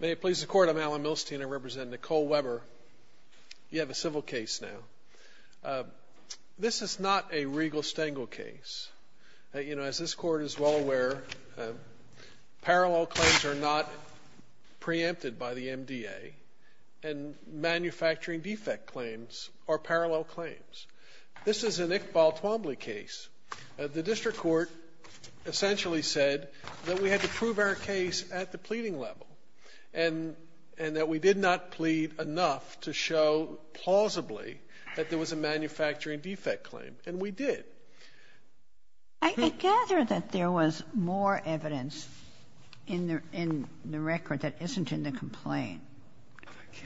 May it please the Court, I'm Alan Milstein. I represent Nicole Weber. You have a civil case now. This is not a regal stangle case. As this Court is well aware, parallel claims are not preempted by the MDA, and manufacturing defect claims are parallel claims. This is an Iqbal Twombly case. The district court essentially said that we had to prove our case at the pleading level, and that we did not plead enough to show, plausibly, that there was a manufacturing defect claim. And we did. I gather that there was more evidence in the record that isn't in the complaint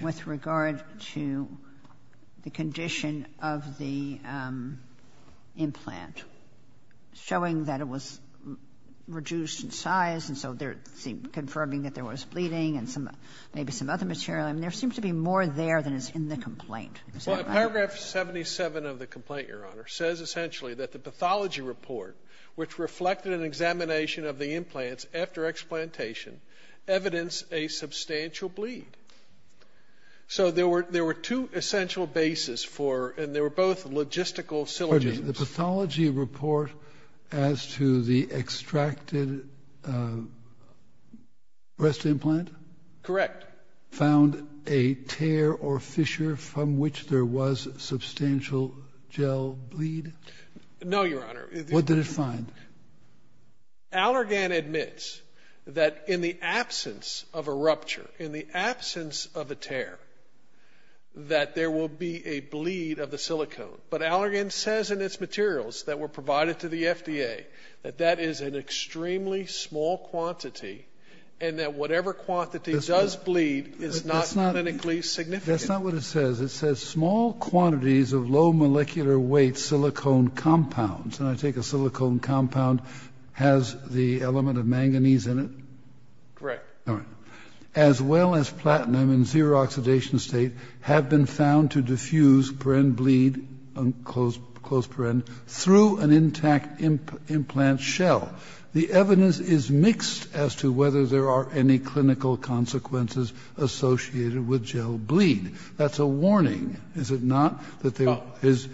with regard to the condition of the implant, showing that it was reduced in size and so they're confirming that there was bleeding and maybe some other material. There seems to be more there than is in the complaint. Is that correct? Well, paragraph 77 of the complaint, Your Honor, says essentially that the pathology report, which reflected an examination of the implants after explantation, evidence a substantial bleed. So there were two essential bases for, and they were both logistical syllogisms. The pathology report as to the extracted breast implant? Correct. Found a tear or fissure from which there was substantial gel bleed? No, Your Honor. What did it find? Allergan admits that in the absence of a rupture, in the absence of a tear, that there will be a bleed of the silicone. But Allergan says in its materials that were provided to the FDA that that is an extremely small quantity and that whatever quantity does bleed is not clinically significant. That's not what it says. It says small quantities of low molecular weight silicone compounds. And I take a silicone compound has the element of manganese in it? Correct. All right. As well as platinum in zero oxidation state have been found to diffuse per-end bleed, close per-end, through an intact implant shell. The evidence is mixed as to whether there are any clinical consequences associated with gel bleed. That's a warning, is it not? No. Now, is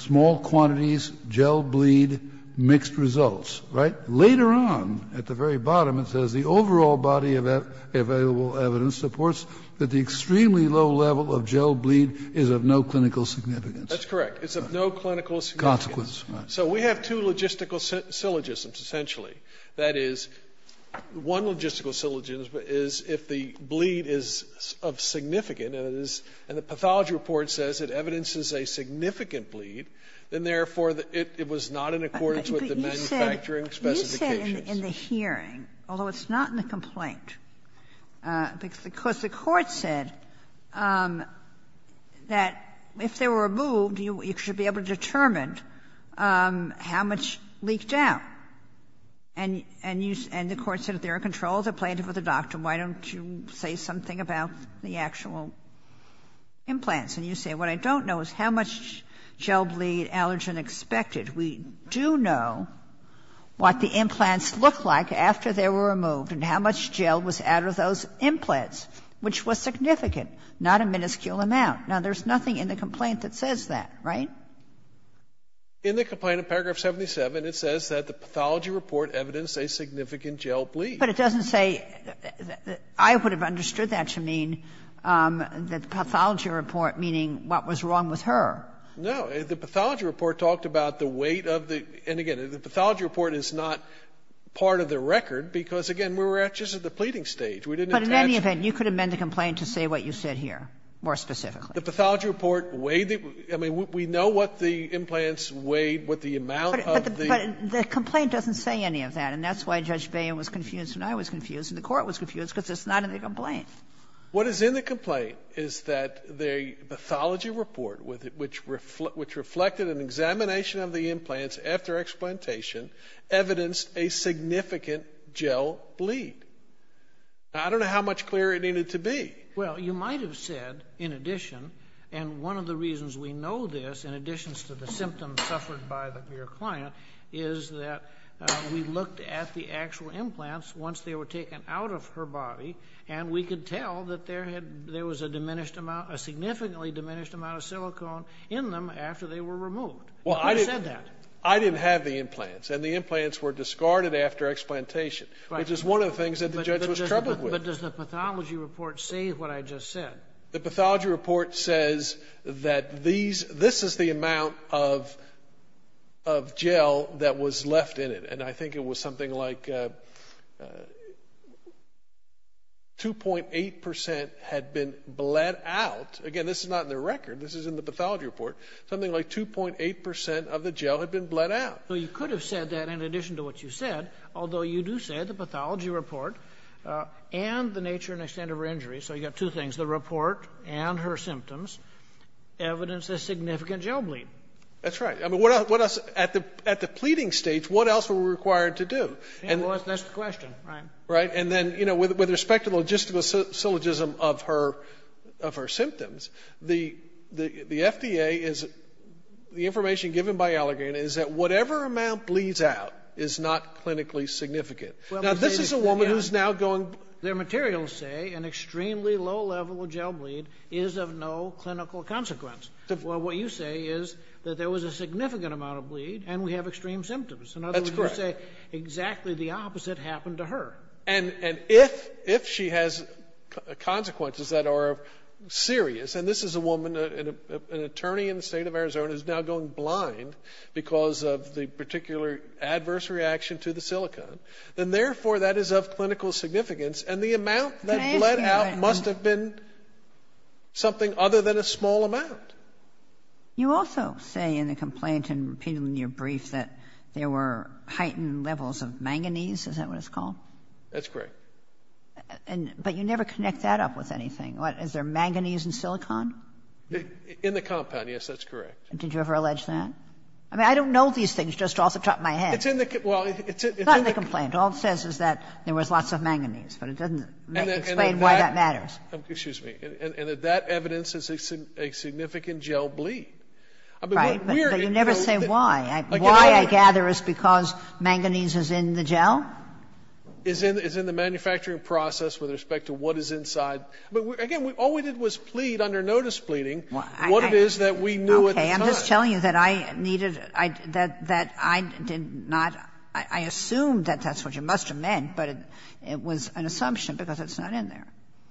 small quantities, gel bleed, mixed results, right? Later on, at the very bottom, it says the overall body of available evidence supports that the extremely low level of gel bleed is of no clinical significance. That's correct. It's of no clinical significance. Consequence, right. So we have two logistical syllogisms, essentially. That is, one logistical syllogism is if the bleed is of significant, and the pathology report says it evidences a significant bleed, then, therefore, it was not in accordance with the manufacturing specifications. But you said in the hearing, although it's not in the complaint, because the court said that if they were removed, you should be able to determine how much leaked out. And you said, and the court said if there are controls that are planted with the implants, and you say what I don't know is how much gel bleed allergen expected. We do know what the implants look like after they were removed and how much gel was out of those implants, which was significant, not a minuscule amount. Now, there's nothing in the complaint that says that, right? In the complaint, in paragraph 77, it says that the pathology report evidenced a significant gel bleed. But it doesn't say that the – I would have understood that to mean that the pathology report, meaning what was wrong with her. No. The pathology report talked about the weight of the – and again, the pathology report is not part of the record, because, again, we were just at the pleading We didn't attach to the – But in any event, you could amend the complaint to say what you said here, more specifically. The pathology report weighed the – I mean, we know what the implants weighed, what the amount of the – But the complaint doesn't say any of that, and that's why Judge Bain was confused and I was confused and the court was confused, because it's not in the complaint. What is in the complaint is that the pathology report, which reflected an examination of the implants after explantation, evidenced a significant gel bleed. I don't know how much clearer it needed to be. Well, you might have said, in addition, and one of the reasons we know this, in addition to the symptoms suffered by your client, is that we looked at the actual body and we could tell that there had – there was a diminished amount – a significantly diminished amount of silicone in them after they were removed. Who said that? Well, I didn't have the implants, and the implants were discarded after explantation, which is one of the things that the judge was troubled with. But does the pathology report say what I just said? The pathology report says that these – this is the amount of gel that was left in it, and I think it was something like 2.8 percent had been bled out. Again, this is not in the record. This is in the pathology report. Something like 2.8 percent of the gel had been bled out. Well, you could have said that in addition to what you said, although you do say the pathology report and the nature and extent of her injury – so you've got two things, the report and her symptoms – evidenced a significant gel bleed. That's right. What else – at the pleading stage, what else were we required to do? That's the question, right? Right. And then with respect to logistical syllogism of her symptoms, the FDA is – the information given by Allergan is that whatever amount bleeds out is not clinically significant. Now, this is a woman who's now going – Their materials say an extremely low level of gel bleed is of no clinical consequence. Well, what you say is that there was a significant amount of bleed and we have extreme symptoms. In other words, you say exactly the opposite happened to her. And if she has consequences that are serious – and this is a woman, an attorney in the state of Arizona, is now going blind because of the particular adverse reaction to the silicone – then therefore that is of clinical significance, and the amount that bled out must have been something other than a small amount. You also say in the complaint and repeated in your brief that there were heightened levels of manganese. Is that what it's called? That's correct. But you never connect that up with anything. Is there manganese in silicone? In the compound, yes. That's correct. Did you ever allege that? I mean, I don't know these things just off the top of my head. It's in the – well, it's in the – It's not in the complaint. All it says is that there was lots of manganese, but it doesn't explain why that matters. Excuse me. And that that evidence is a significant gel bleed. Right. But you never say why. Why, I gather, is because manganese is in the gel? Is in the manufacturing process with respect to what is inside. But again, all we did was plead under notice pleading what it is that we knew at the time. Okay. I'm just telling you that I needed – that I did not – I assumed that that's what you must have meant, but it was an assumption because it's not in there.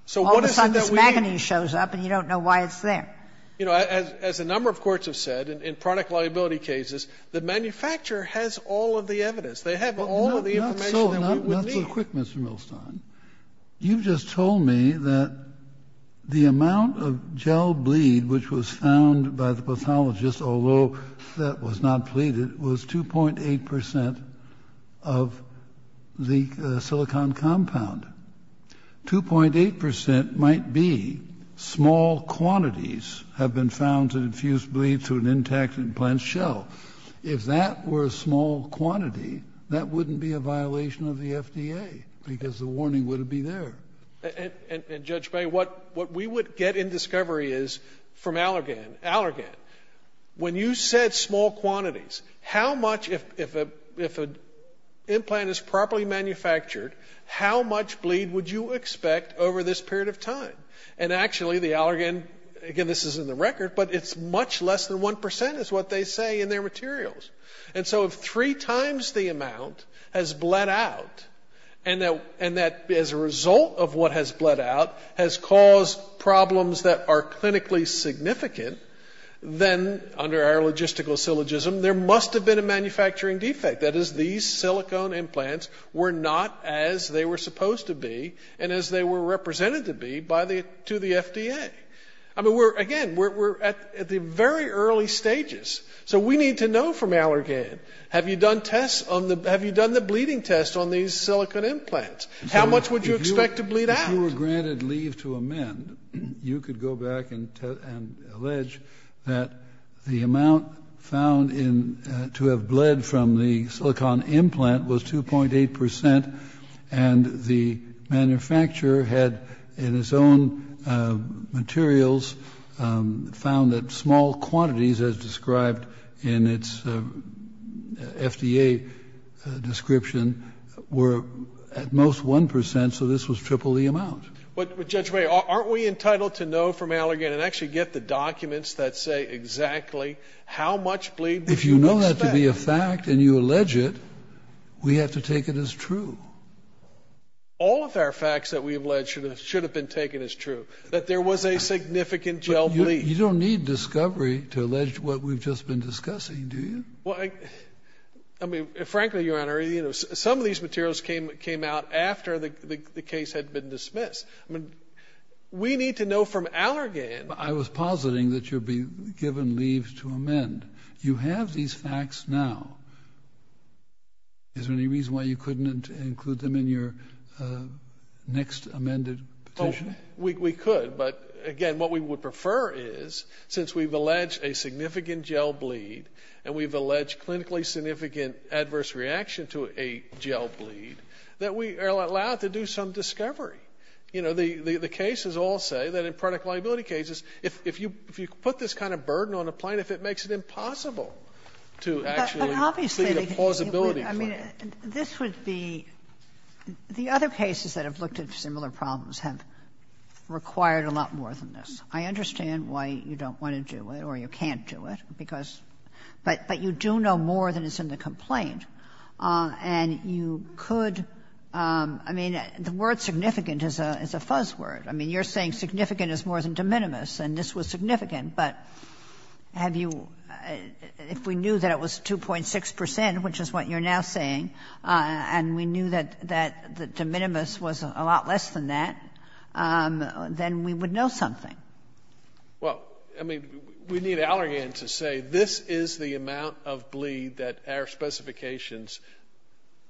So what is it that we – All of a sudden this manganese shows up and you don't know why it's there. You know, as a number of courts have said in product liability cases, the manufacturer has all of the evidence. They have all of the information that we would need. Not so quick, Mr. Milstein. You've just told me that the amount of gel bleed which was found by the pathologist, although that was not pleaded, was 2.8 percent of the silicon compound. 2.8 percent might be small quantities have been found to infuse bleed through an intact implant shell. If that were a small quantity, that wouldn't be a violation of the FDA because the warning wouldn't be there. And, Judge May, what we would get in discovery is from Allergan, Allergan, when you said small quantities, how much – if an implant is properly manufactured, how much bleed would you expect over this period of time? And actually, the Allergan – again, this is in the record, but it's much less than 1 percent is what they say in their materials. And so if three times the amount has bled out and that as a result of what has bled out has caused problems that are clinically significant, then under our logistical syllogism, there must have been a manufacturing defect. That is, these silicon implants were not as they were supposed to be and as they were represented to be by the – to the FDA. I mean, we're – again, we're at the very early stages. So we need to know from Allergan, have you done tests on the – have you done the bleeding test on these silicon implants? How much would you expect to bleed out? If you were granted leave to amend, you could go back and tell – and allege that the amount found in – to have bled from the silicon implant was 2.8 percent, and the manufacturer had in its own materials found that small quantities, as described in its FDA description, were at most 1 percent, so this was triple the amount. But Judge May, aren't we entitled to know from Allergan and actually get the documents that say exactly how much bleed we can expect? If you know that to be a fact and you allege it, we have to take it as true. All of our facts that we allege should have been taken as true, that there was a significant gel bleed. You don't need discovery to allege what we've just been discussing, do you? Well, I mean, frankly, Your Honor, you know, some of these materials came out after the case had been dismissed. I mean, we need to know from Allergan – I was positing that you'd be given leave to amend. You have these facts now. Is there any reason why you couldn't include them in your next amended petition? We could, but again, what we would prefer is, since we've alleged a significant gel bleed and we've alleged clinically significant adverse reaction to a gel bleed, that we are allowed to do some discovery. You know, the cases all say that in product liability cases, if you put this kind of burden on a plaintiff, it makes it impossible to actually lead a plausibility claim. But obviously, I mean, this would be – the other cases that have looked at similar problems have required a lot more than this. I understand why you don't want to do it or you can't do it, because – but you do know more than is in the complaint. And you could – I mean, the word significant is a fuzz word. I mean, you're saying significant is more than de minimis, and this was significant. But have you – if we knew that it was 2.6 percent, which is what you're now saying, and we knew that de minimis was a lot less than that, then we would know something. Well, I mean, we need Allergan to say this is the amount of bleed that our specifications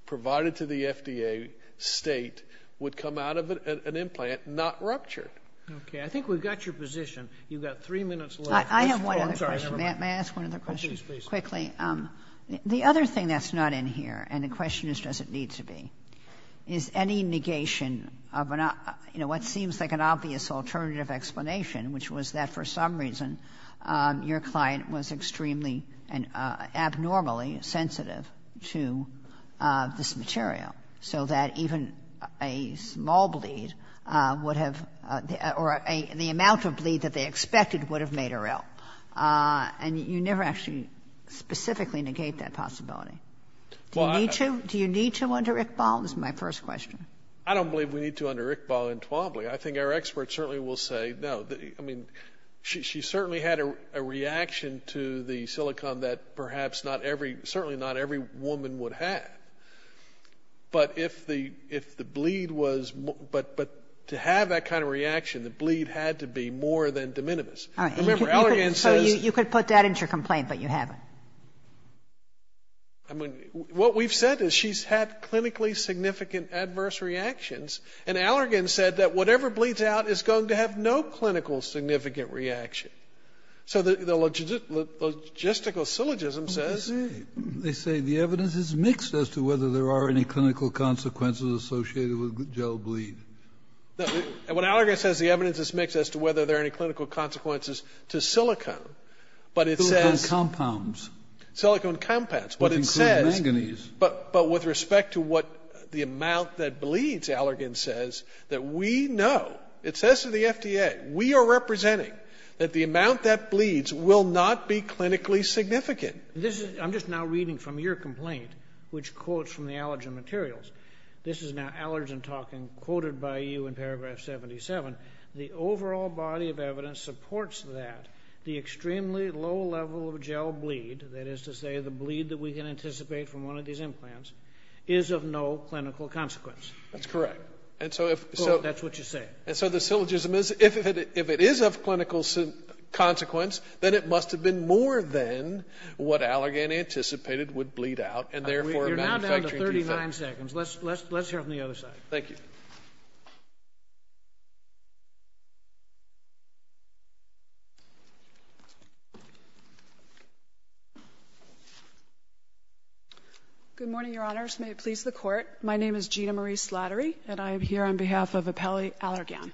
provided to the FDA state would come out of an implant not ruptured. Okay. I think we've got your position. You've got three minutes left. I have one other question. May I ask one other question? Please, please. Quickly. The other thing that's not in here, and the question is does it need to be, is any obvious alternative explanation, which was that, for some reason, your client was extremely and abnormally sensitive to this material, so that even a small bleed would have – or the amount of bleed that they expected would have made her ill. And you never actually specifically negate that possibility. Do you need to? Do you need to under Iqbal? This is my first question. I don't believe we need to under Iqbal and Tuomly. I think our experts certainly will say no. I mean, she certainly had a reaction to the silicone that perhaps not every, certainly not every woman would have. But if the bleed was – but to have that kind of reaction, the bleed had to be more than de minimis. Remember, Allergan says – So you could put that into your complaint, but you haven't. I mean, what we've said is she's had clinically significant adverse reactions. And Allergan said that whatever bleeds out is going to have no clinical significant reaction. So the logistical syllogism says – They say the evidence is mixed as to whether there are any clinical consequences associated with gel bleed. No, what Allergan says is the evidence is mixed as to whether there are any clinical consequences to silicone, but it says – Silicone compounds. Silicone compounds, but it says – Which include manganese. But with respect to what the amount that bleeds, Allergan says, that we know – it says to the FDA, we are representing that the amount that bleeds will not be clinically significant. This is – I'm just now reading from your complaint, which quotes from the Allergan materials. This is now Allergan talking, quoted by you in paragraph 77. The overall body of evidence supports that the extremely low level of gel bleed, that is to say the bleed that we can anticipate from one of these implants, is of no clinical consequence. That's correct. And so if – That's what you say. And so the syllogism is, if it is of clinical consequence, then it must have been more than what Allergan anticipated would bleed out, and therefore a manufacturing defect. You're now down to 39 seconds. Let's hear it from the other side. Thank you. Good morning, Your Honors. May it please the Court. My name is Gina Marie Slattery, and I am here on behalf of Appellee Allergan.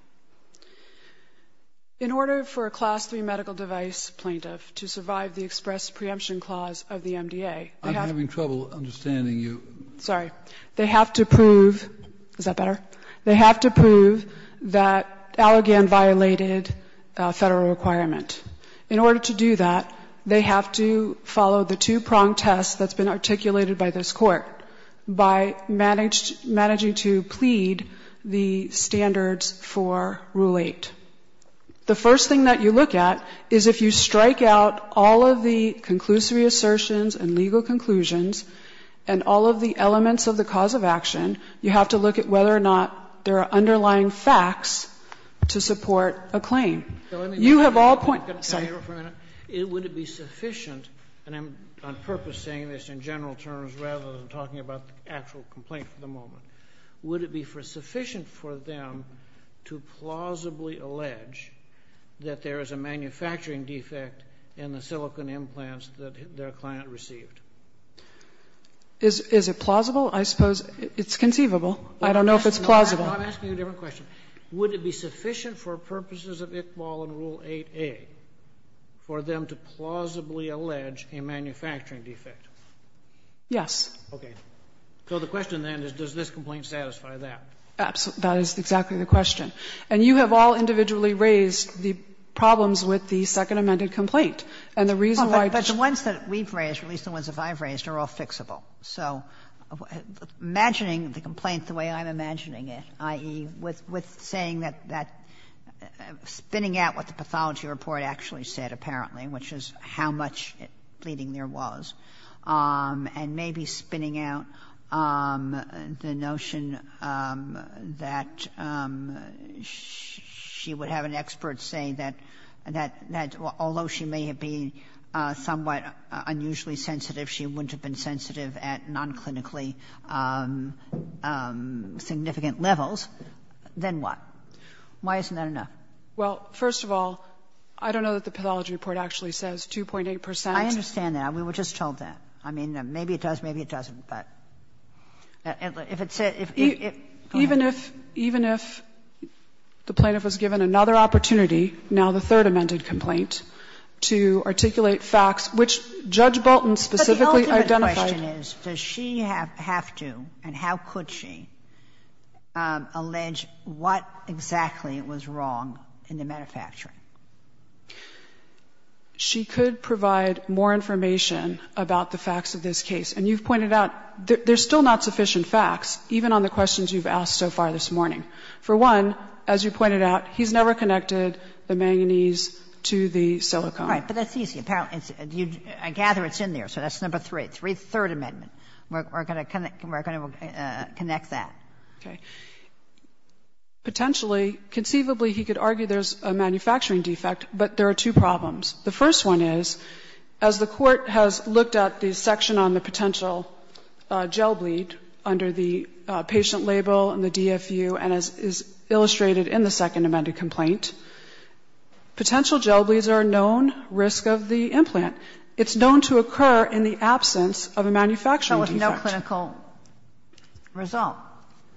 In order for a Class III medical device plaintiff to survive the express preemption clause of the MDA, they have to – I'm having trouble understanding you. Sorry. They have to prove – is that better? They have to prove that Allergan violated Federal requirement. In order to do that, they have to follow the two-prong test that's been articulated by this Court, by managing to plead the standards for Rule 8. The first thing that you look at is if you strike out all of the conclusive assertions and legal conclusions and all of the elements of the cause of action, you have to look at whether or not there are underlying facts to support a claim. You have all points. Would it be sufficient – and I'm on purpose saying this in general terms rather than talking about the actual complaint for the moment – would it be sufficient for them to plausibly allege that there is a manufacturing defect in the silicon implants that their client received? Is it plausible? I suppose it's conceivable. I don't know if it's plausible. I'm asking you a different question. Would it be sufficient for purposes of Iqbal and Rule 8a for them to plausibly allege a manufacturing defect? Yes. Okay. So the question then is, does this complaint satisfy that? That is exactly the question. And you have all individually raised the problems with the Second Amended Complaint and the reason why it's not. But the ones that we've raised, or at least the ones that I've raised, are all fixable. So imagining the complaint the way I'm imagining it, i.e., with saying that that spinning out what the pathology report actually said apparently, which is how much bleeding there was, and maybe spinning out the notion that she would have an expert say that although she may have been somewhat unusually sensitive, she wouldn't have been sensitive at non-clinically significant levels, then what? Why isn't that enough? Well, first of all, I don't know that the pathology report actually says 2.8 percent. I understand that. We were just told that. I mean, maybe it does, maybe it doesn't, but if it's a go ahead. Even if the plaintiff was given another opportunity, now the Third Amended Complaint, I don't know that it would be sufficient to articulate facts which Judge Bolton specifically identified. But the ultimate question is, does she have to, and how could she, allege what exactly was wrong in the manufacturing? She could provide more information about the facts of this case. And you've pointed out there's still not sufficient facts, even on the questions you've asked so far this morning. For one, as you pointed out, he's never connected the manganese to the silicone. Right, but that's easy. I gather it's in there, so that's number 3, the Third Amendment. We're going to connect that. Okay. Potentially, conceivably, he could argue there's a manufacturing defect, but there are two problems. The first one is, as the Court has looked at the section on the potential gel bleed under the patient label and the DFU, and as is illustrated in the Second Amended Complaint, potential gel bleeds are a known risk of the implant. It's known to occur in the absence of a manufacturing defect. That was no clinical result,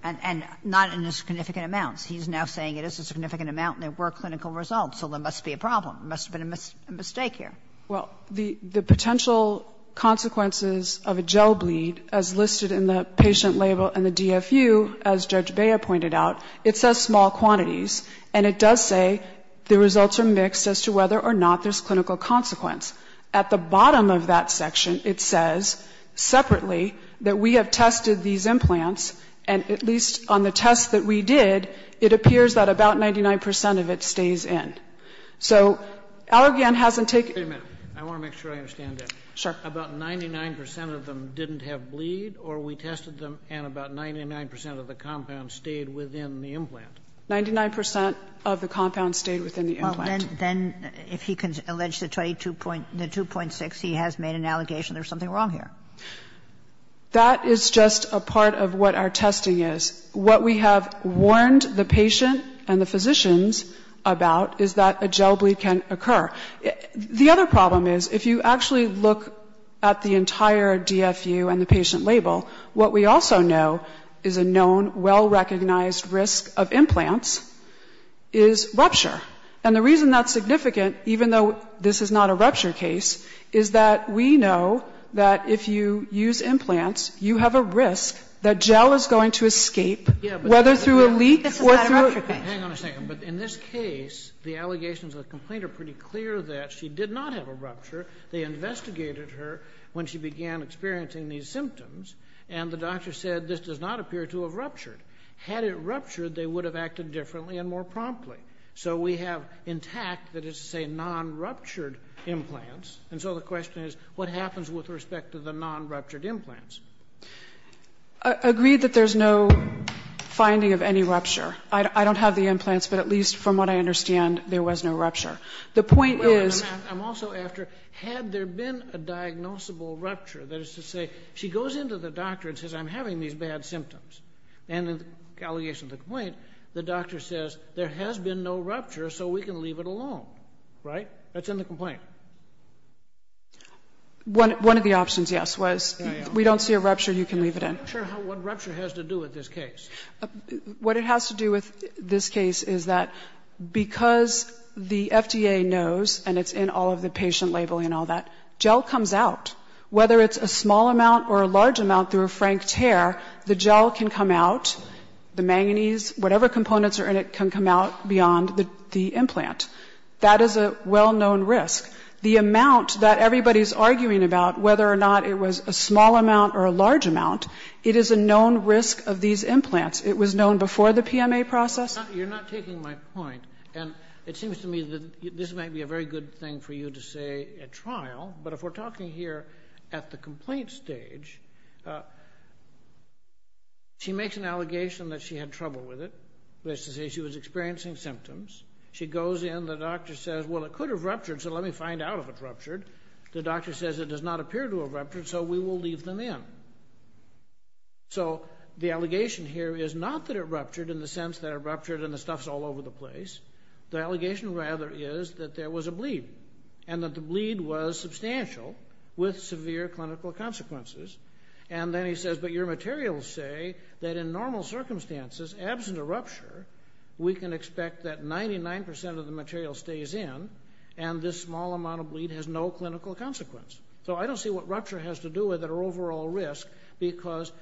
and not in a significant amount. He's now saying it is a significant amount and there were clinical results, so there must be a problem. There must have been a mistake here. Well, the potential consequences of a gel bleed, as listed in the patient label and the DFU, as Judge Bea pointed out, it says small quantities, and it does say the results are mixed as to whether or not there's clinical consequence. At the bottom of that section, it says separately that we have tested these implants, and at least on the tests that we did, it appears that about 99 percent of it stays in. So Allergan hasn't taken it. I want to make sure I understand that. Sure. About 99 percent of them didn't have bleed, or we tested them and about 99 percent of the compound stayed within the implant? Ninety-nine percent of the compound stayed within the implant. Well, then if he can allege the 22.6, he has made an allegation there's something wrong here. That is just a part of what our testing is. What we have warned the patient and the physicians about is that a gel bleed can occur. The other problem is if you actually look at the entire DFU and the patient label, what we also know is a known, well-recognized risk of implants is rupture. And the reason that's significant, even though this is not a rupture case, is that we know that if you use implants, you have a risk that gel is going to escape, whether through a leak or through a rupture. Hang on a second. But in this case, the allegations of the complaint are pretty clear that she did not have a rupture. They investigated her when she began experiencing these symptoms, and the doctor said this does not appear to have ruptured. Had it ruptured, they would have acted differently and more promptly. So we have intact that it's a non-ruptured implants. And so the question is, what happens with respect to the non-ruptured implants? I agree that there's no finding of any rupture. I don't have the implants, but at least from what I understand, there was no rupture. The point is the point is I'm also after had there been a diagnosable rupture. That is to say, she goes into the doctor and says, I'm having these bad symptoms. And in the allegation of the complaint, the doctor says, there has been no rupture, so we can leave it alone. Right? That's in the complaint. One of the options, yes, was we don't see a rupture, you can leave it in. I'm not sure what rupture has to do with this case. What it has to do with this case is that because the FDA knows, and it's in all of the patient labeling and all that, gel comes out. Whether it's a small amount or a large amount through a frank tear, the gel can come out, the manganese, whatever components are in it can come out beyond the implant. That is a well-known risk. The amount that everybody is arguing about, whether or not it was a small amount or a large amount, it is a known risk of these implants. It was known before the PMA process. Kennedy. You're not taking my point. And it seems to me that this might be a very good thing for you to say at trial, but if we're talking here at the complaint stage, she makes an allegation that she had trouble with it. That is to say, she was experiencing symptoms. She goes in. The doctor says, well, it could have ruptured, so let me find out if it ruptured. The doctor says it does not appear to have ruptured, so we will leave them in. So the allegation here is not that it ruptured in the sense that it ruptured and the stuff's all over the place. The allegation, rather, is that there was a bleed and that the bleed was substantial with severe clinical consequences. And then he says, but your materials say that in normal circumstances, absent a 99% of the material stays in, and this small amount of bleed has no clinical consequence. So I don't see what rupture has to do with it or overall risk, because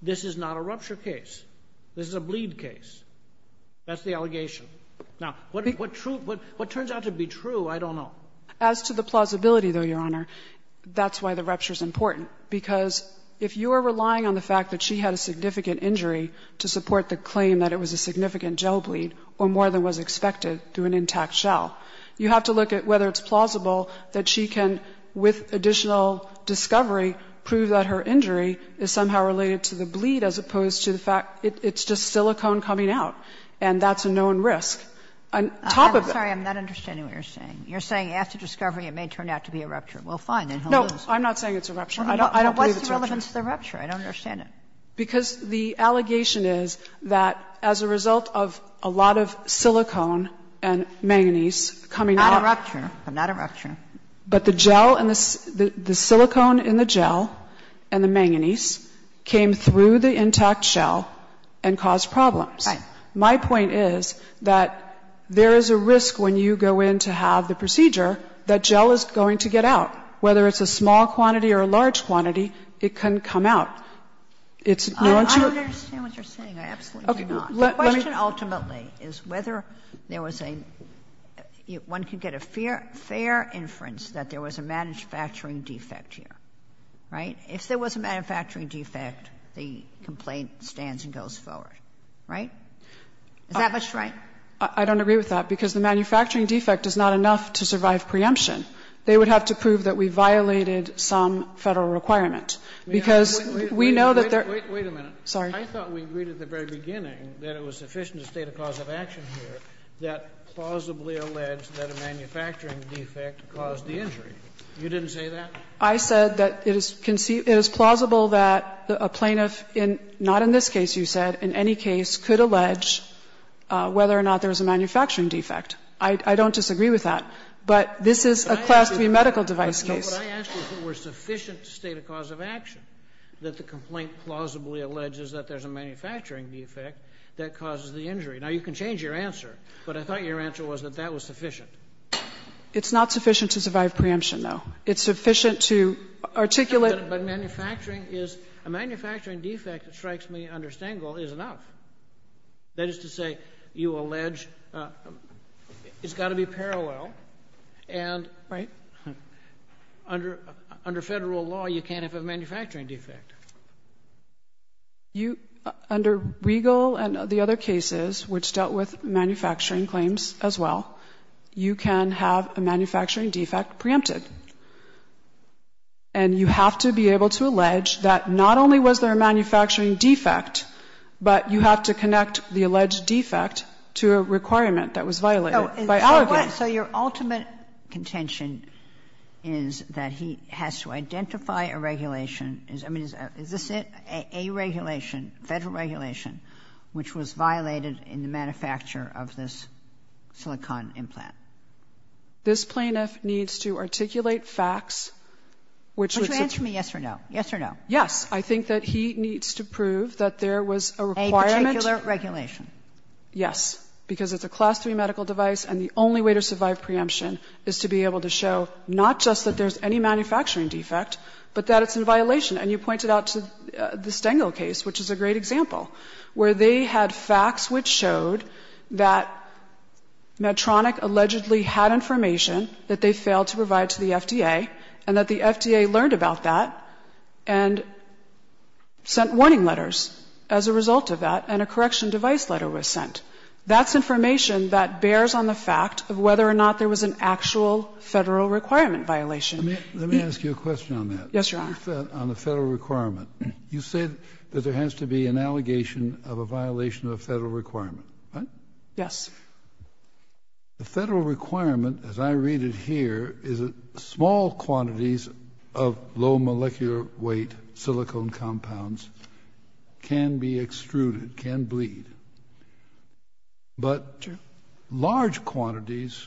this is not a rupture case. This is a bleed case. That's the allegation. Now, what turns out to be true, I don't know. As to the plausibility, though, Your Honor, that's why the rupture's important. Because if you are relying on the fact that she had a significant injury to support the claim that it was a significant gel bleed or more than was expected through an intact shell, you have to look at whether it's plausible that she can, with additional discovery, prove that her injury is somehow related to the bleed as opposed to the fact it's just silicone coming out, and that's a known risk. On top of that you're saying after discovery it may turn out to be a rupture. Well, fine, then he'll lose. No, I'm not saying it's a rupture. I don't believe it's a rupture. What's the relevance to the rupture? I don't understand it. Because the allegation is that as a result of a lot of silicone and manganese coming out. Not a rupture. Not a rupture. But the gel and the silicone in the gel and the manganese came through the intact shell and caused problems. Right. My point is that there is a risk when you go in to have the procedure that gel is going to get out. Whether it's a small quantity or a large quantity, it can come out. It's not a rupture. I don't understand what you're saying. I absolutely do not. The question ultimately is whether there was a one could get a fair inference that there was a manufacturing defect here. Right? If there was a manufacturing defect, the complaint stands and goes forward. Right? Is that much right? I don't agree with that, because the manufacturing defect is not enough to survive preemption. They would have to prove that we violated some Federal requirement. Because we know that there are Wait a minute. Sorry. I thought we agreed at the very beginning that it was sufficient to state a cause of action here that plausibly alleged that a manufacturing defect caused the injury. You didn't say that? I said that it is plausible that a plaintiff, not in this case, you said, in any case, could allege whether or not there was a manufacturing defect. I don't disagree with that. But this is a Class III medical device case. What I asked you is if it were sufficient to state a cause of action that the complaint plausibly alleges that there's a manufacturing defect that causes the injury. Now, you can change your answer, but I thought your answer was that that was sufficient. It's not sufficient to survive preemption, though. It's sufficient to articulate the fact that a manufacturing defect that strikes me under Stengel is enough. That is to say, you allege it's got to be parallel and the claim is that there's a manufacturing defect. Under Federal law, you can't have a manufacturing defect. You, under Regal and the other cases which dealt with manufacturing claims as well, you can have a manufacturing defect preempted. And you have to be able to allege that not only was there a manufacturing defect, but you have to connect the alleged defect to a requirement that was violated by alleging. So your ultimate contention is that he has to identify a regulation. I mean, is this a regulation, Federal regulation, which was violated in the manufacture of this silicon implant? This plaintiff needs to articulate facts, which would. Would you answer me yes or no? Yes or no? Yes. I think that he needs to prove that there was a requirement. A particular regulation. Yes, because it's a class three medical device and the only way to survive preemption is to be able to show not just that there's any manufacturing defect, but that it's in violation. And you pointed out to the Stengel case, which is a great example, where they had facts which showed that Medtronic allegedly had information that they failed to provide to the FDA and that the FDA learned about that and sent warning letters as a result of that and a correction device letter was sent. That's information that bears on the fact of whether or not there was an actual Federal requirement violation. Let me ask you a question on that. Yes, Your Honor. On the Federal requirement, you said that there has to be an allegation of a violation of a Federal requirement, right? Yes. The Federal requirement, as I read it here, is that small quantities of low molecular weight silicone compounds can be extruded, can bleed. But large quantities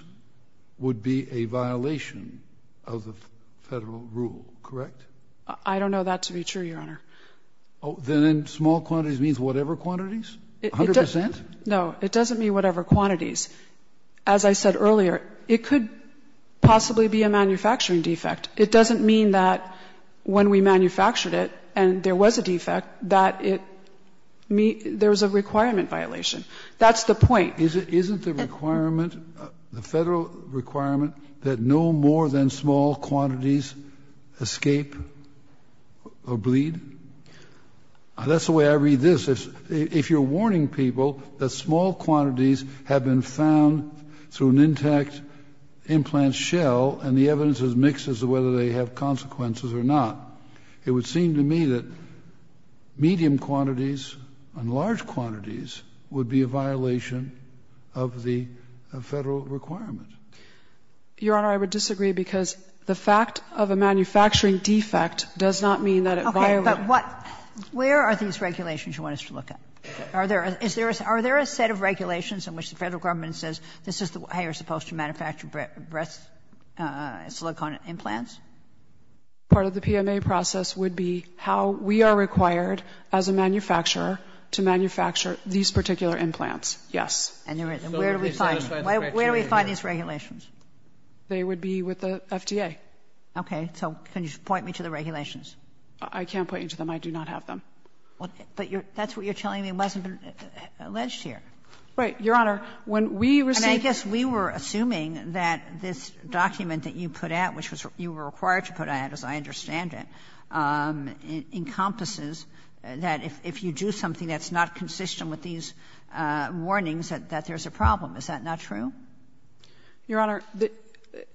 would be a violation of the Federal rule, correct? I don't know that to be true, Your Honor. Oh, then small quantities means whatever quantities, 100 percent? No, it doesn't mean whatever quantities. As I said earlier, it could possibly be a manufacturing defect. It doesn't mean that when we manufactured it and there was a defect that it, there was a requirement violation. That's the point. Isn't the requirement, the Federal requirement, that no more than small quantities escape or bleed? That's the way I read this. If you're warning people that small quantities have been found through an intact implant shell and the evidence is mixed as to whether they have consequences or not, it would seem to me that medium quantities and large quantities would be a violation of the Federal requirement. Your Honor, I would disagree because the fact of a manufacturing defect does not mean that it violates. Okay. But what – where are these regulations you want us to look at? Are there a set of regulations in which the Federal government says this is how you're supposed to look on implants? Part of the PMA process would be how we are required as a manufacturer to manufacture these particular implants, yes. And where do we find these regulations? They would be with the FDA. Okay. So can you point me to the regulations? I can't point you to them. I do not have them. But that's what you're telling me wasn't alleged here. Right. Your Honor, when we received the regulations, we were assuming that this was a manufacturing defect. But the document that you put out, which was you were required to put out, as I understand it, encompasses that if you do something that's not consistent with these warnings, that there's a problem. Is that not true? Your Honor,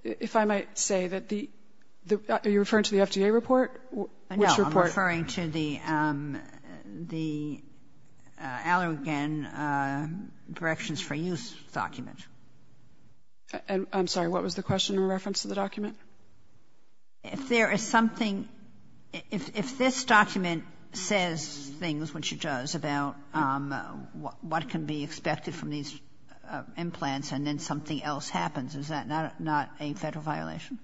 if I might say that the – are you referring to the FDA report? Which report? No. I'm referring to the Allergan Corrections for Use document. I'm sorry. What was the question in reference to the document? If there is something – if this document says things, which it does, about what can be expected from these implants and then something else happens, is that not a Federal violation?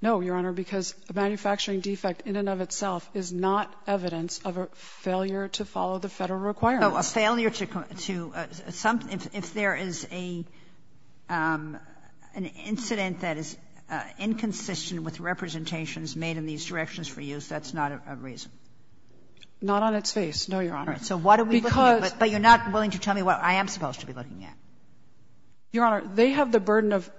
No, Your Honor, because a manufacturing defect in and of itself is not evidence of a failure to follow the Federal requirements. So a failure to – if there is an incident that is inconsistent with representations made in these directions for use, that's not a reason? Not on its face, no, Your Honor. All right. So what are we looking at? Because – But you're not willing to tell me what I am supposed to be looking at. Your Honor, they have the burden of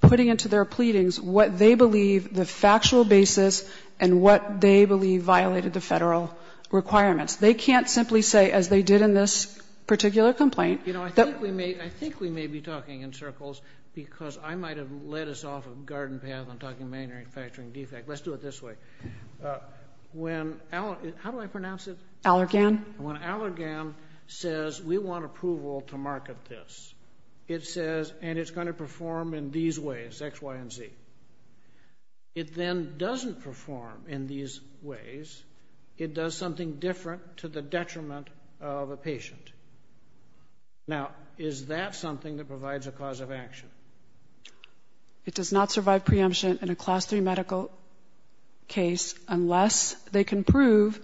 putting into their pleadings what they believe the factual basis and what they believe violated the Federal requirements. They can't simply say, as they did in this particular complaint, that – You know, I think we may – I think we may be talking in circles because I might have led us off a garden path in talking about manufacturing defect. Let's do it this way. When – how do I pronounce it? Allergan. When Allergan says, we want approval to market this, it says, and it's going to perform in these ways, X, Y, and Z. It then doesn't perform in these ways. It does something different to the detriment of a patient. Now, is that something that provides a cause of action? It does not survive preemption in a Class III medical case unless they can prove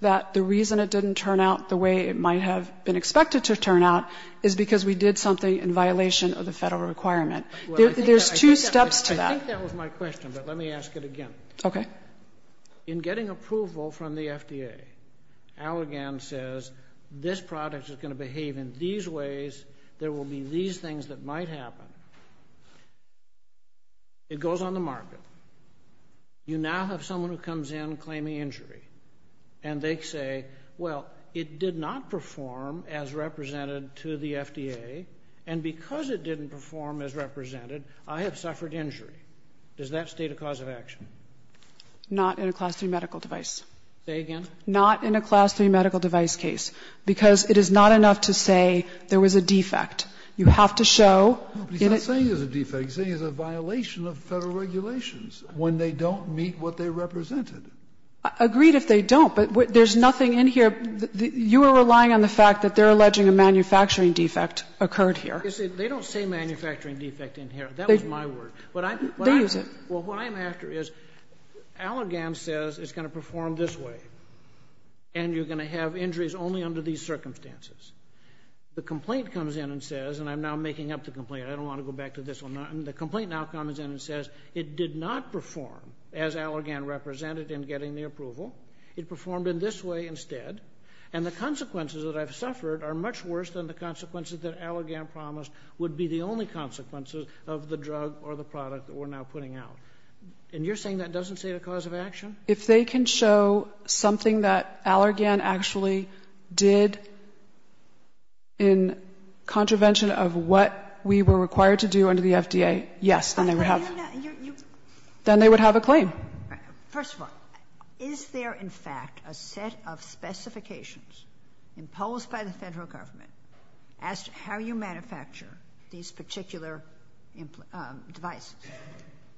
that the reason it didn't turn out the way it might have been expected to turn out is because we did something in violation of the Federal requirement. There's two steps to that. I think that was my question, but let me ask it again. Okay. In getting approval from the FDA, Allergan says, this product is going to behave in these ways, there will be these things that might happen. It goes on the market. You now have someone who comes in claiming injury, and they say, well, it did not perform as represented to the FDA, and because it didn't perform as represented, I have suffered injury. Does that state a cause of action? Not in a Class III medical device. Say again. Not in a Class III medical device case, because it is not enough to say there was a defect. You have to show in a ---- No, but he's not saying there's a defect. He's saying there's a violation of Federal regulations when they don't meet what they represented. Agreed if they don't, but there's nothing in here. You are relying on the fact that they're alleging a manufacturing defect occurred here. They don't say manufacturing defect in here. That was my word. They use it. Well, what I'm after is Allergan says it's going to perform this way, and you're going to have injuries only under these circumstances. The complaint comes in and says, and I'm now making up the complaint. I don't want to go back to this one. The complaint now comes in and says it did not perform as Allergan represented in getting the approval. It performed in this way instead, and the consequences that I've suffered are much worse than the consequences that Allergan promised would be the only consequences of the drug or the product that we're now putting out. And you're saying that doesn't state a cause of action? If they can show something that Allergan actually did in contravention of what we were required to do under the FDA, yes, then they would have a claim. First of all, is there, in fact, a set of specifications imposed by the Federal Government as to how you manufacture these particular devices?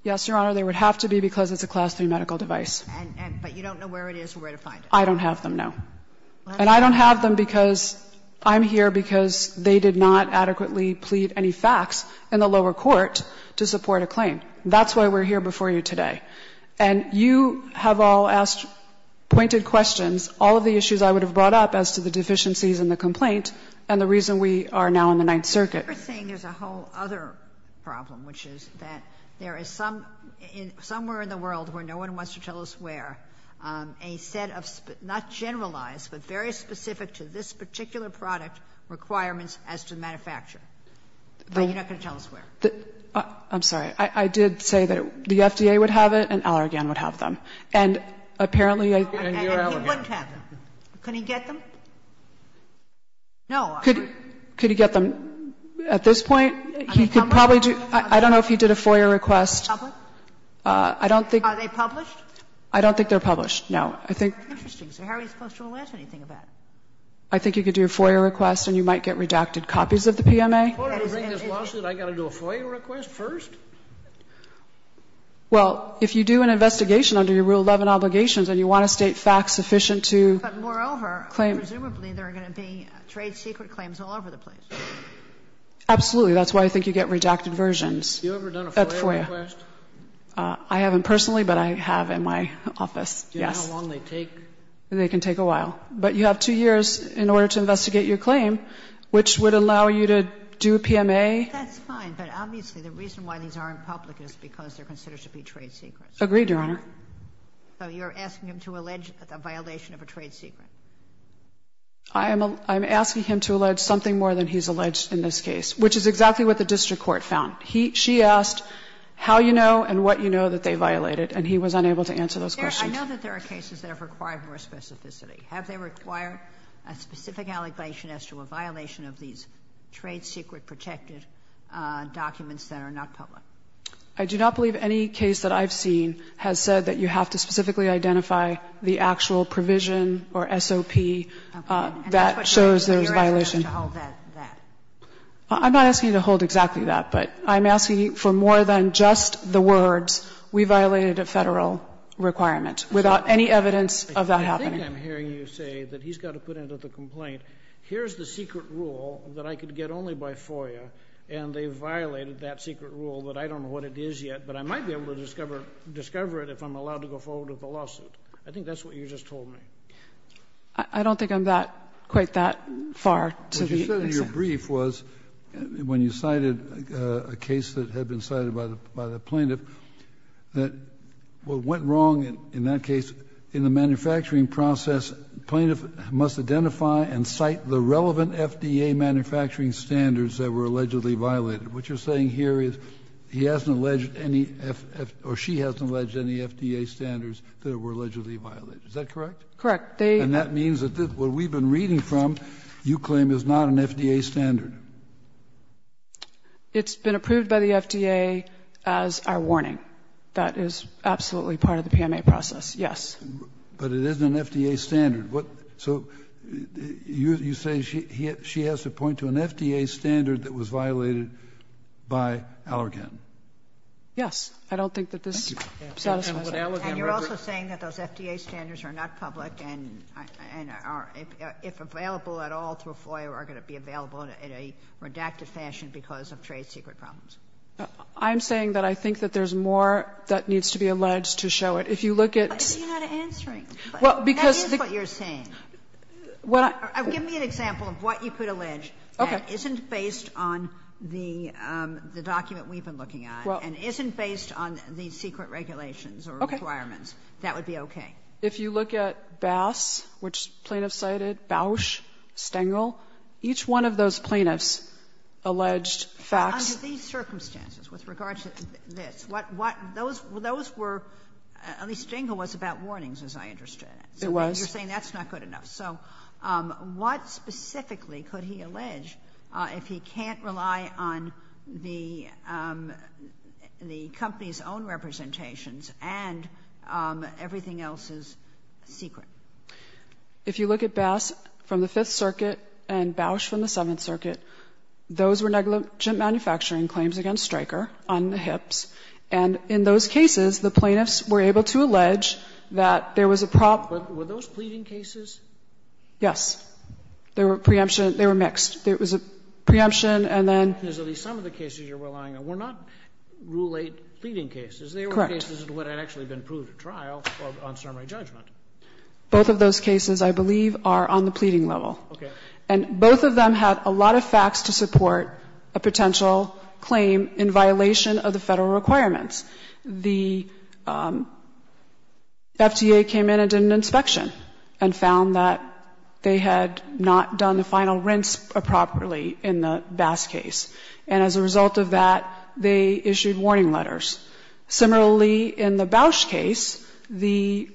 Yes, Your Honor, there would have to be, because it's a Class III medical device. And you don't know where it is or where to find it? I don't have them, no. And I don't have them because I'm here because they did not adequately plead any facts in the lower court to support a claim. That's why we're here before you today. And you have all asked pointed questions, all of the issues I would have brought up as to the deficiencies in the complaint and the reason we are now in the Ninth Circuit. You're saying there's a whole other problem, which is that there is some – somewhere in the world where no one wants to tell us where, a set of not generalized but very specific to this particular product requirements as to manufacture. But you're not going to tell us where? I'm sorry. I did say that the FDA would have it and Allergan would have them. And apparently I think they would have them. And you're Allergan. Allergan wouldn't have them. Could he get them? No. Could he get them at this point? He could probably do – I don't know if he did a FOIA request. Are they public? I don't think – Are they published? I don't think they're published, no. I think – Interesting. So how are we supposed to know anything about it? I think you could do a FOIA request and you might get redacted copies of the PMA. I'm going to bring this lawsuit, I've got to do a FOIA request first? Well, if you do an investigation under your Rule 11 obligations and you want to state facts sufficient to claim – But moreover, presumably there are going to be trade secret claims all over the place. Absolutely. That's why I think you get redacted versions at FOIA. Have you ever done a FOIA request? I haven't personally, but I have in my office, yes. Do you know how long they take? They can take a while. But you have two years in order to investigate your claim, which would allow you to do a PMA. That's fine, but obviously the reason why these aren't public is because they're considered to be trade secrets. Agreed, Your Honor. So you're asking him to allege a violation of a trade secret? I'm asking him to allege something more than he's alleged in this case, which is exactly what the district court found. He – she asked how you know and what you know that they violated, and he was unable to answer those questions. I know that there are cases that have required more specificity. Have they required a specific allegation as to a violation of these trade secret protected documents that are not public? I do not believe any case that I've seen has said that you have to specifically identify the actual provision or SOP that shows there's a violation. And that's what you're asking him to hold that? I'm not asking him to hold exactly that, but I'm asking for more than just the words we violated a Federal requirement without any evidence of that happening. I think I'm hearing you say that he's got to put into the complaint, here's the secret rule that I could get only by FOIA, and they violated that secret rule, but I don't know what it is yet. But I might be able to discover it if I'm allowed to go forward with the lawsuit. I think that's what you just told me. I don't think I'm that – quite that far to the extent. What you said in your brief was, when you cited a case that had been cited by the plaintiff, that what went wrong in that case, in the manufacturing process, plaintiff must identify and cite the relevant FDA manufacturing standards that were allegedly violated. What you're saying here is he hasn't alleged any – or she hasn't alleged any FDA standards that were allegedly violated. Is that correct? Correct. And that means that what we've been reading from, you claim, is not an FDA standard? It's been approved by the FDA as our warning. That is absolutely part of the PMA process, yes. But it isn't an FDA standard. So you're saying she has to point to an FDA standard that was violated by Allergan? Yes. I don't think that this satisfies that. And you're also saying that those FDA standards are not public and are, if available at all through FOIA, are going to be available in a redacted fashion because of trade secret problems? I'm saying that I think that there's more that needs to be alleged to show it. If you look at the – Why are you not answering? That is what you're saying. Give me an example of what you could allege that isn't based on the document we've been looking at and isn't based on the secret regulations or requirements. That would be okay. If you look at Bass, which plaintiffs cited, Bausch, Stengel, each one of those plaintiffs alleged facts. Under these circumstances, with regard to this, what those were – at least Stengel was about warnings, as I understand it. It was. You're saying that's not good enough. So what specifically could he allege if he can't rely on the company's own representations and everything else is secret? If you look at Bass from the Fifth Circuit and Bausch from the Seventh Circuit, And in those cases, the plaintiffs were able to allege that there was a problem But were those pleading cases? Yes. There were preemptions. They were mixed. There was a preemption and then There's at least some of the cases you're relying on. Were not Rule 8 pleading cases. Correct. They were cases that had actually been proved at trial on summary judgment. Both of those cases, I believe, are on the pleading level. Okay. And both of them had a lot of facts to support a potential claim in violation of the federal requirements. The FDA came in and did an inspection and found that they had not done the final rinse properly in the Bass case. And as a result of that, they issued warning letters. Similarly, in the Bausch case, the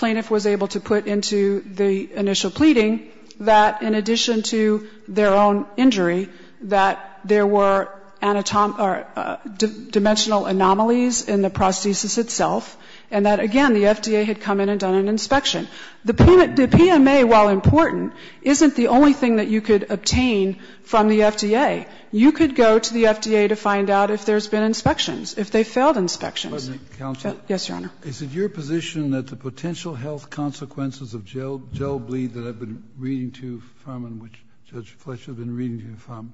plaintiff was able to put into the initial pleading that in addition to their own injury, that there were dimensional anomalies in the prosthesis itself, and that, again, the FDA had come in and done an inspection. The PMA, while important, isn't the only thing that you could obtain from the FDA. You could go to the FDA to find out if there's been inspections, if they failed inspections. Mr. Counsel. Yes, Your Honor. Is it your position that the potential health consequences of gel bleed that I've been reading to you from and which Judge Fletcher has been reading to you from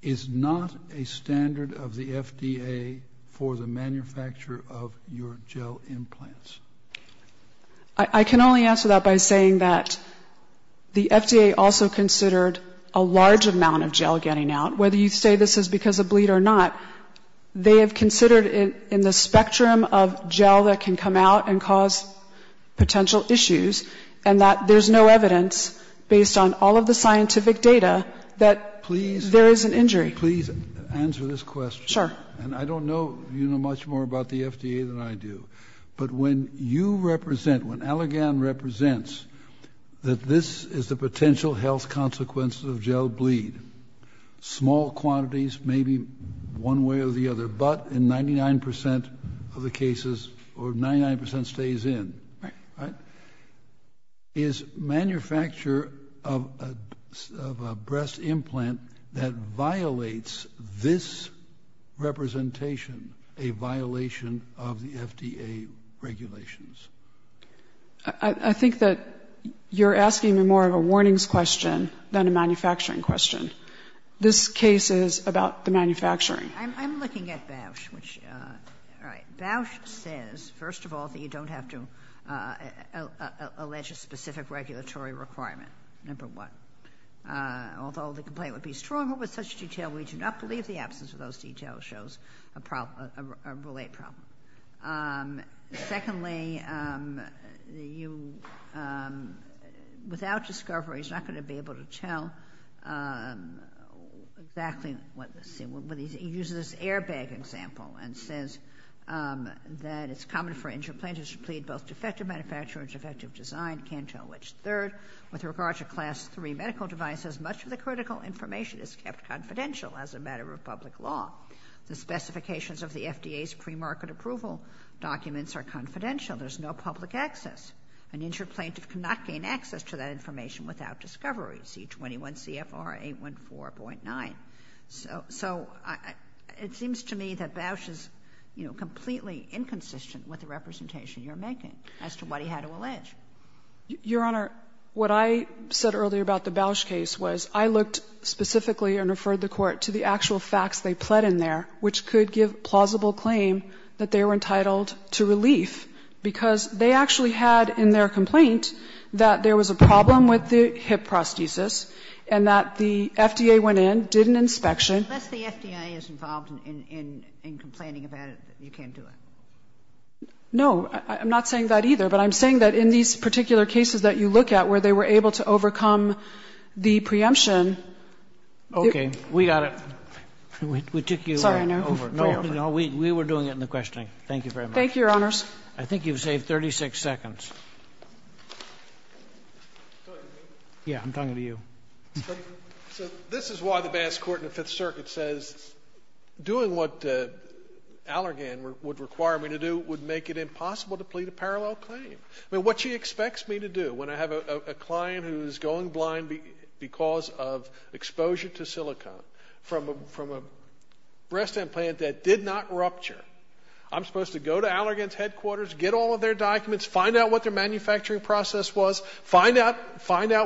is not a standard of the FDA for the manufacture of your gel implants? I can only answer that by saying that the FDA also considered a large amount of gel getting out. Whether you say this is because of bleed or not, they have considered in the spectrum of gel that can come out and cause potential issues, and that there's no evidence, based on all of the scientific data, that there is an injury. Please answer this question. Sure. And I don't know if you know much more about the FDA than I do, but when you represent, when Allergan represents that this is the potential health consequences of gel bleed, small quantities, maybe one way or the other, but in 99% of the cases, or 99% stays in. Is manufacture of a breast implant that violates this representation a violation of the FDA regulations? I think that you're asking me more of a warnings question than a manufacturing question. This case is about the manufacturing. I'm looking at Bausch, which, all right. Bausch says, first of all, that you don't have to allege a specific regulatory requirement, number one. Although the complaint would be stronger with such detail, we do not believe the absence of those details shows a relate problem. Secondly, you, without discovery, is not going to be able to tell whether the implant exactly what, say, uses airbag example and says that it's common for insured plaintiffs to plead both defective manufacture and defective design, can't tell which third. With regard to class three medical devices, much of the critical information is kept confidential as a matter of public law. The specifications of the FDA's premarket approval documents are confidential. There's no public access. An insured plaintiff cannot gain access to that information without discovery. C-21 CFR 814.9. So it seems to me that Bausch is, you know, completely inconsistent with the representation you're making as to what he had to allege. Your Honor, what I said earlier about the Bausch case was I looked specifically and referred the Court to the actual facts they pled in there, which could give plausible claim that they were entitled to relief, because they actually had in their complaint that there was a problem with the hip prosthesis and that the FDA went in, did an inspection. Unless the FDA is involved in complaining about it, you can't do it. No. I'm not saying that either. But I'm saying that in these particular cases that you look at where they were able to overcome the preemption. Okay. We got it. We took you over. Sorry. No, we were doing it in the questioning. Thank you very much. Thank you, Your Honors. I think you've saved 36 seconds. Yeah, I'm talking to you. So this is why the Basque Court in the Fifth Circuit says doing what Allergan would require me to do would make it impossible to plead a parallel claim. I mean, what she expects me to do when I have a client who's going blind because of exposure to silicone from a breast implant that did not rupture, I'm supposed to go to Allergan's documents, find out what their manufacturing process was, find out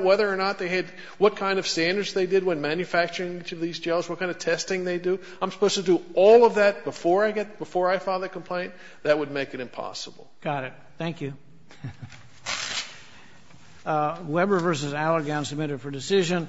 whether or not they had what kind of standards they did when manufacturing each of these gels, what kind of testing they do. I'm supposed to do all of that before I file the complaint? That would make it impossible. Got it. Thank you. Weber v. Allergan submitted for decision.